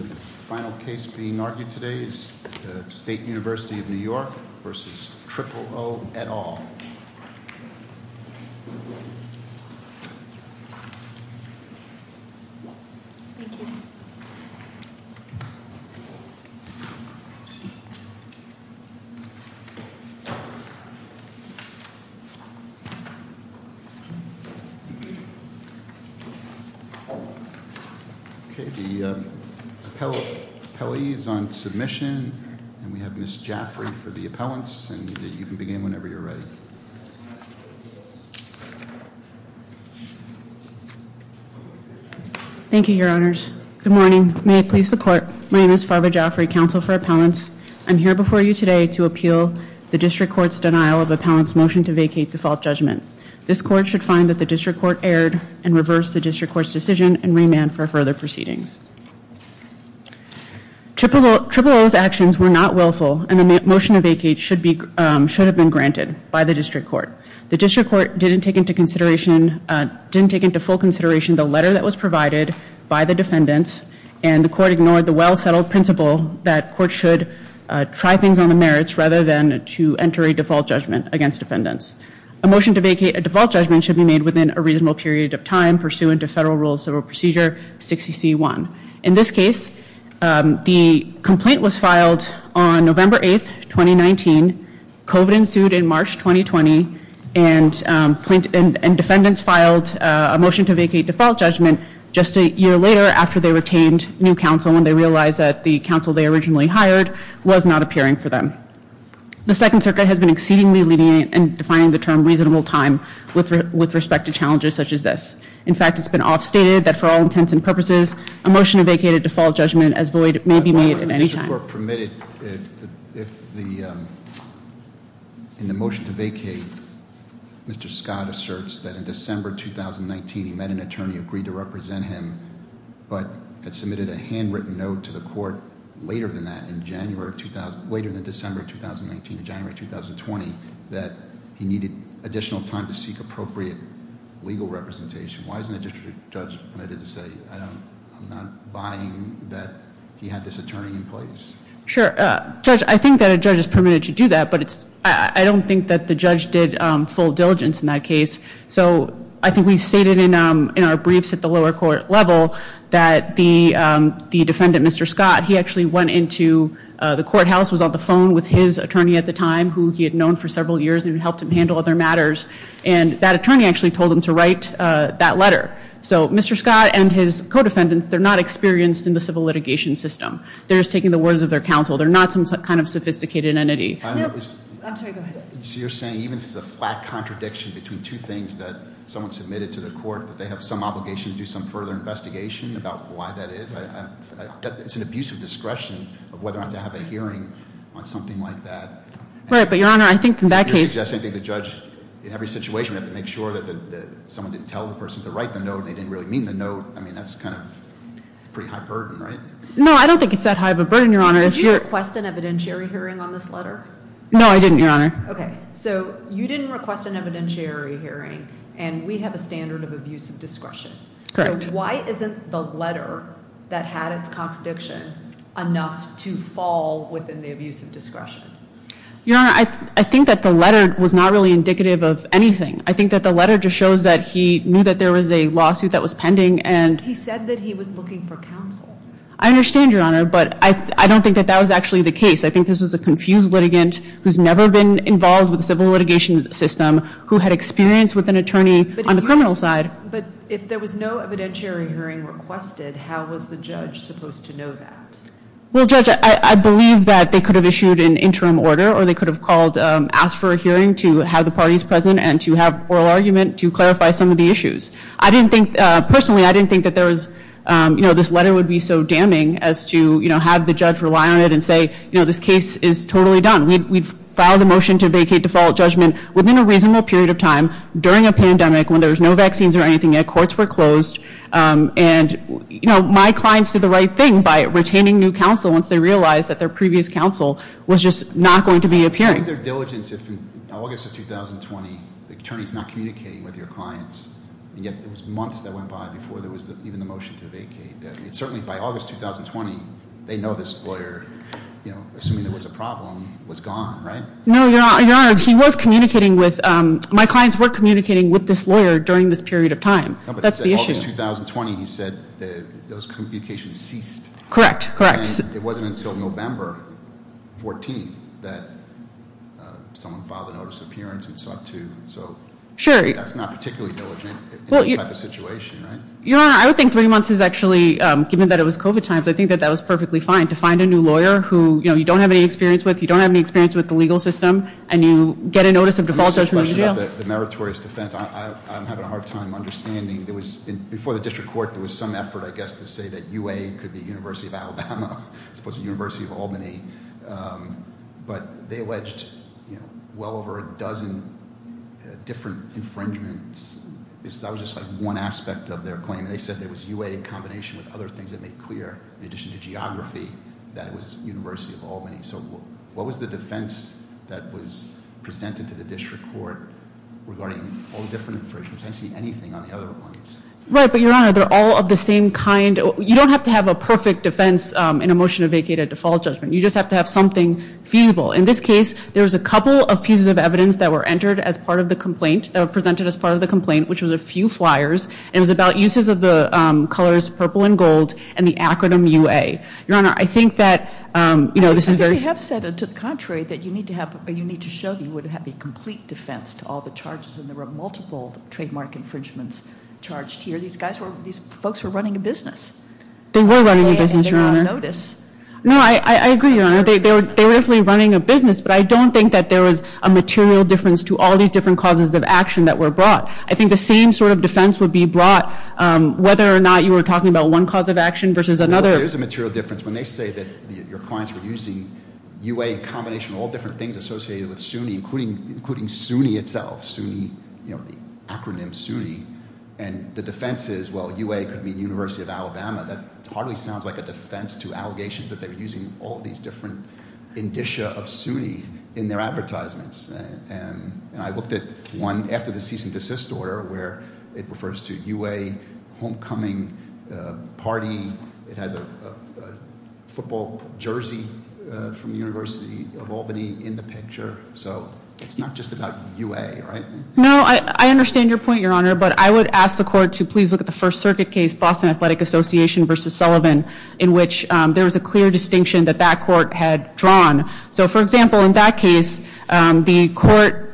The final case being argued today is the State University of New York v. Triple O, et al. We have two appellees on submission, and we have Ms. Jaffrey for the appellants, and you can begin whenever you're ready. Thank you, your honors. Good morning. May it please the court, my name is Farva Jaffrey, counsel for appellants. I'm here before you today to appeal the district court's denial of appellants' motion to vacate default judgment. This court should find that the district court erred and reverse the district court's decision and remand for further proceedings. Triple O's actions were not willful, and the motion to vacate should have been granted by the district court. The district court didn't take into full consideration the letter that was provided by the defendants, and the court ignored the well-settled principle that courts should try things on the merits rather than to enter a default judgment against defendants. A motion to vacate a default judgment should be made within a reasonable period of time pursuant to Federal Rules of Procedure 60C1. In this case, the complaint was filed on November 8th, 2019. COVID ensued in March 2020, and plaintiffs and defendants filed a motion to vacate default judgment just a year later after they retained new counsel when they realized that the counsel they originally hired was not appearing for them. The Second Circuit has been exceedingly lenient in defining the term reasonable time with respect to challenges such as this. In fact, it's been off-stated that for all intents and purposes, a motion to vacate a default judgment as void may be made at any time. If the motion to vacate, Mr. Scott asserts that in December 2019 he met an attorney who agreed to represent him, but had submitted a handwritten note to the court later than that in December 2019, in January 2020, that he needed additional time to seek appropriate legal representation. Why isn't the district judge permitted to say, I'm not buying that he had this attorney in place? Sure. Judge, I think that a judge is permitted to do that, but I don't think that the judge did full diligence in that case. So I think we stated in our briefs at the lower court level that the defendant, Mr. Scott, he actually went into the courthouse, was on the phone with his attorney at the time, who he had known for several years and helped him handle other matters. And that attorney actually told him to write that letter. So Mr. Scott and his co-defendants, they're not experienced in the civil litigation system. They're just taking the words of their counsel. They're not some kind of sophisticated entity. I'm sorry, go ahead. So you're saying even if it's a flat contradiction between two things that someone submitted to the court, that they have some obligation to do some further investigation about why that is? It's an abuse of discretion of whether or not to have a hearing on something like that. Right, but Your Honor, I think in that case- You're suggesting that the judge, in every situation, had to make sure that someone didn't tell the person to write the note and they didn't really mean the note. I mean, that's kind of a pretty high burden, right? No, I don't think it's that high of a burden, Your Honor. Did you request an evidentiary hearing on this letter? No, I didn't, Your Honor. Okay, so you didn't request an evidentiary hearing and we have a standard of abuse of discretion. Correct. So why isn't the letter that had its contradiction enough to fall within the abuse of discretion? Your Honor, I think that the letter was not really indicative of anything. I think that the letter just shows that he knew that there was a lawsuit that was pending and- He said that he was looking for counsel. I understand, Your Honor, but I don't think that that was actually the case. I think this was a confused litigant who's never been involved with the civil litigation system, who had experience with an attorney on the criminal side. But if there was no evidentiary hearing requested, how was the judge supposed to know that? Well, Judge, I believe that they could have issued an interim order or they could have called- asked for a hearing to have the parties present and to have oral argument to clarify some of the issues. I didn't think- Personally, I didn't think that there was- as to, you know, have the judge rely on it and say, you know, this case is totally done. We've filed a motion to vacate default judgment within a reasonable period of time during a pandemic when there was no vaccines or anything and courts were closed. And, you know, my clients did the right thing by retaining new counsel once they realized that their previous counsel was just not going to be appearing. It was their diligence. In August of 2020, the attorney's not communicating with your clients. And yet, it was months that went by before there was even a motion to vacate. Certainly, by August 2020, they know this lawyer, you know, assuming there was a problem, was gone, right? No, Your Honor. He was communicating with- my clients were communicating with this lawyer during this period of time. That's the issue. No, but in August 2020, he said that those communications ceased. Correct. Correct. And it wasn't until November 14th that someone filed a notice of appearance and so on, too. So- Sure. That's not particularly diligent in this type of situation, right? Your Honor, I would think three months is actually- given that it was COVID times, I think that that was perfectly fine to find a new lawyer who, you know, you don't have any experience with. You don't have any experience with the legal system. And you get a notice of default, and you're in jail. The meritorious defense. I'm having a hard time understanding. Before the district court, there was some effort, I guess, to say that UA could be University of Alabama as opposed to University of Albany. But they alleged, you know, well over a dozen different infringements. That was just like one aspect of their claim. And they said there was UA in combination with other things that made clear, in addition to geography, that it was University of Albany. So what was the defense that was presented to the district court regarding all the different infringements? I didn't see anything on the other complaints. Right, but, Your Honor, they're all of the same kind. You don't have to have a perfect defense in a motion to vacate a default judgment. You just have to have something feasible. In this case, there was a couple of pieces of evidence that were entered as part of the complaint, which was a few flyers. It was about uses of the colors purple and gold and the acronym UA. Your Honor, I think that, you know, this is very- I think they have said, to the contrary, that you need to show that you would have a complete defense to all the charges. And there were multiple trademark infringements charged here. These folks were running a business. They were running a business, Your Honor. And they're on notice. No, I agree, Your Honor. They were definitely running a business. But I don't think that there was a material difference to all these different causes of action that were brought. I think the same sort of defense would be brought whether or not you were talking about one cause of action versus another. No, there is a material difference. When they say that your clients were using UA in combination of all different things associated with SUNY, including SUNY itself, SUNY, you know, the acronym SUNY. And the defense is, well, UA could mean University of Alabama. That hardly sounds like a defense to allegations that they were using all these different indicia of SUNY in their advertisements. And I looked at one after the cease and desist order where it refers to UA homecoming party. It has a football jersey from the University of Albany in the picture. So it's not just about UA, right? No, I understand your point, Your Honor. But I would ask the court to please look at the First Circuit case, Boston Athletic Association versus Sullivan, in which there was a clear distinction that that court had drawn. So, for example, in that case, the court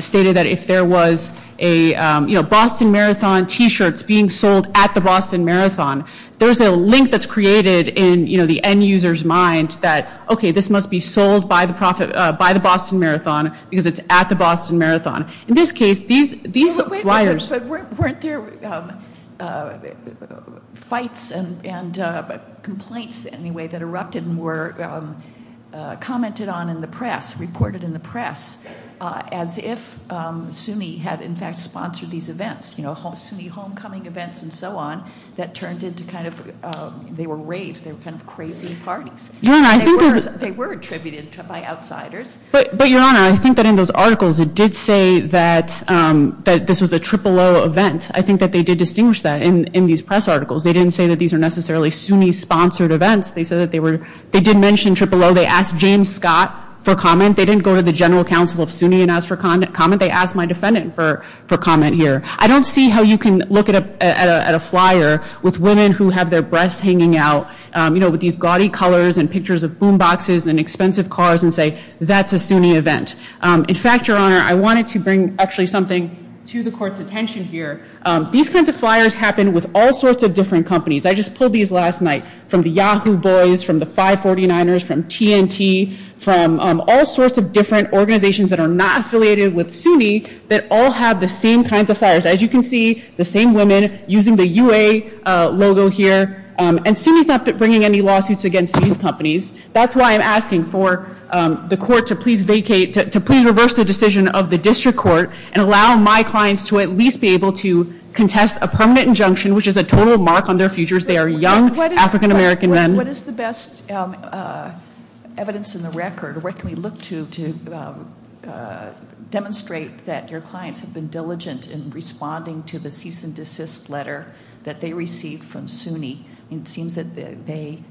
stated that if there was a, you know, Boston Marathon t-shirts being sold at the Boston Marathon, there's a link that's created in, you know, the end user's mind that, okay, this must be sold by the Boston Marathon because it's at the Boston Marathon. In this case, these flyers. But weren't there fights and complaints, anyway, that erupted and were commented on in the press, reported in the press, as if SUNY had, in fact, sponsored these events? You know, SUNY homecoming events and so on that turned into kind of, they were raves. They were kind of crazy parties. Your Honor, I think there's. They were attributed by outsiders. But, Your Honor, I think that in those articles, it did say that this was a Triple O event. I think that they did distinguish that in these press articles. They didn't say that these are necessarily SUNY-sponsored events. They said that they were. They did mention Triple O. They asked James Scott for comment. They didn't go to the general counsel of SUNY and ask for comment. They asked my defendant for comment here. I don't see how you can look at a flyer with women who have their breasts hanging out, you know, with these gaudy colors and pictures of boom boxes and expensive cars and say that's a SUNY event. In fact, Your Honor, I wanted to bring actually something to the court's attention here. These kinds of flyers happen with all sorts of different companies. I just pulled these last night from the Yahoo Boys, from the 549ers, from TNT, from all sorts of different organizations that are not affiliated with SUNY that all have the same kinds of flyers. As you can see, the same women using the UA logo here. And SUNY's not bringing any lawsuits against these companies. That's why I'm asking for the court to please vacate, to please reverse the decision of the district court and allow my clients to at least be able to contest a permanent injunction, which is a total mark on their futures. They are young African American men. What is the best evidence in the record? Where can we look to demonstrate that your clients have been diligent in responding to the cease and It seems that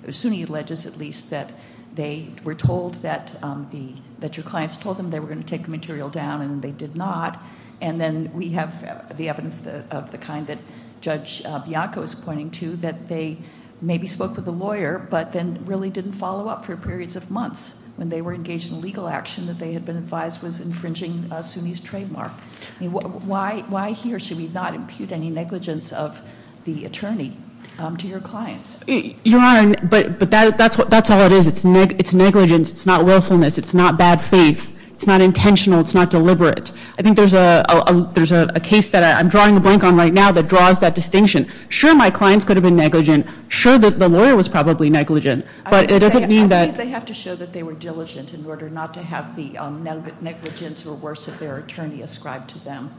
SUNY alleges at least that they were told that your clients told them they were going to take the material down and they did not. And then we have the evidence of the kind that Judge Bianco is pointing to, that they maybe spoke with a lawyer, but then really didn't follow up for periods of months. When they were engaged in legal action that they had been advised was infringing SUNY's trademark. Why here should we not impute any negligence of the attorney to your clients? Your Honor, but that's all it is. It's negligence. It's not willfulness. It's not bad faith. It's not intentional. It's not deliberate. I think there's a case that I'm drawing a blank on right now that draws that distinction. Sure, my clients could have been negligent. Sure, the lawyer was probably negligent. But it doesn't mean that- I think they have to show that they were diligent in order not to have the negligence or worse of their attorney ascribed to them.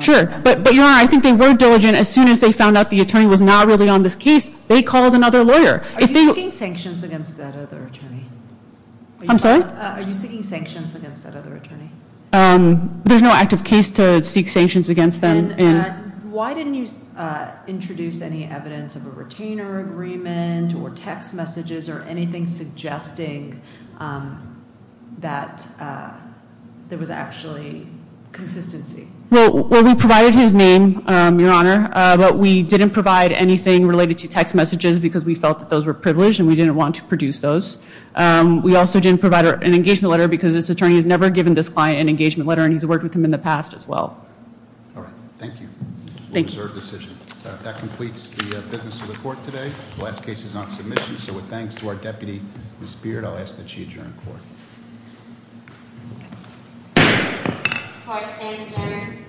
Sure. But, Your Honor, I think they were diligent. As soon as they found out the attorney was not really on this case, they called another lawyer. Are you seeking sanctions against that other attorney? I'm sorry? Are you seeking sanctions against that other attorney? There's no active case to seek sanctions against them. Why didn't you introduce any evidence of a retainer agreement or text messages or anything suggesting that there was actually consistency? Well, we provided his name, Your Honor, but we didn't provide anything related to text messages because we felt that those were privileged and we didn't want to produce those. We also didn't provide an engagement letter because this attorney has never given this client an engagement letter, and he's worked with him in the past as well. All right. Thank you. Thank you. We'll reserve decision. That completes the business of the court today. The last case is on submission, so with thanks to our deputy, Ms. Beard, I'll ask that she adjourn court. Court is adjourned.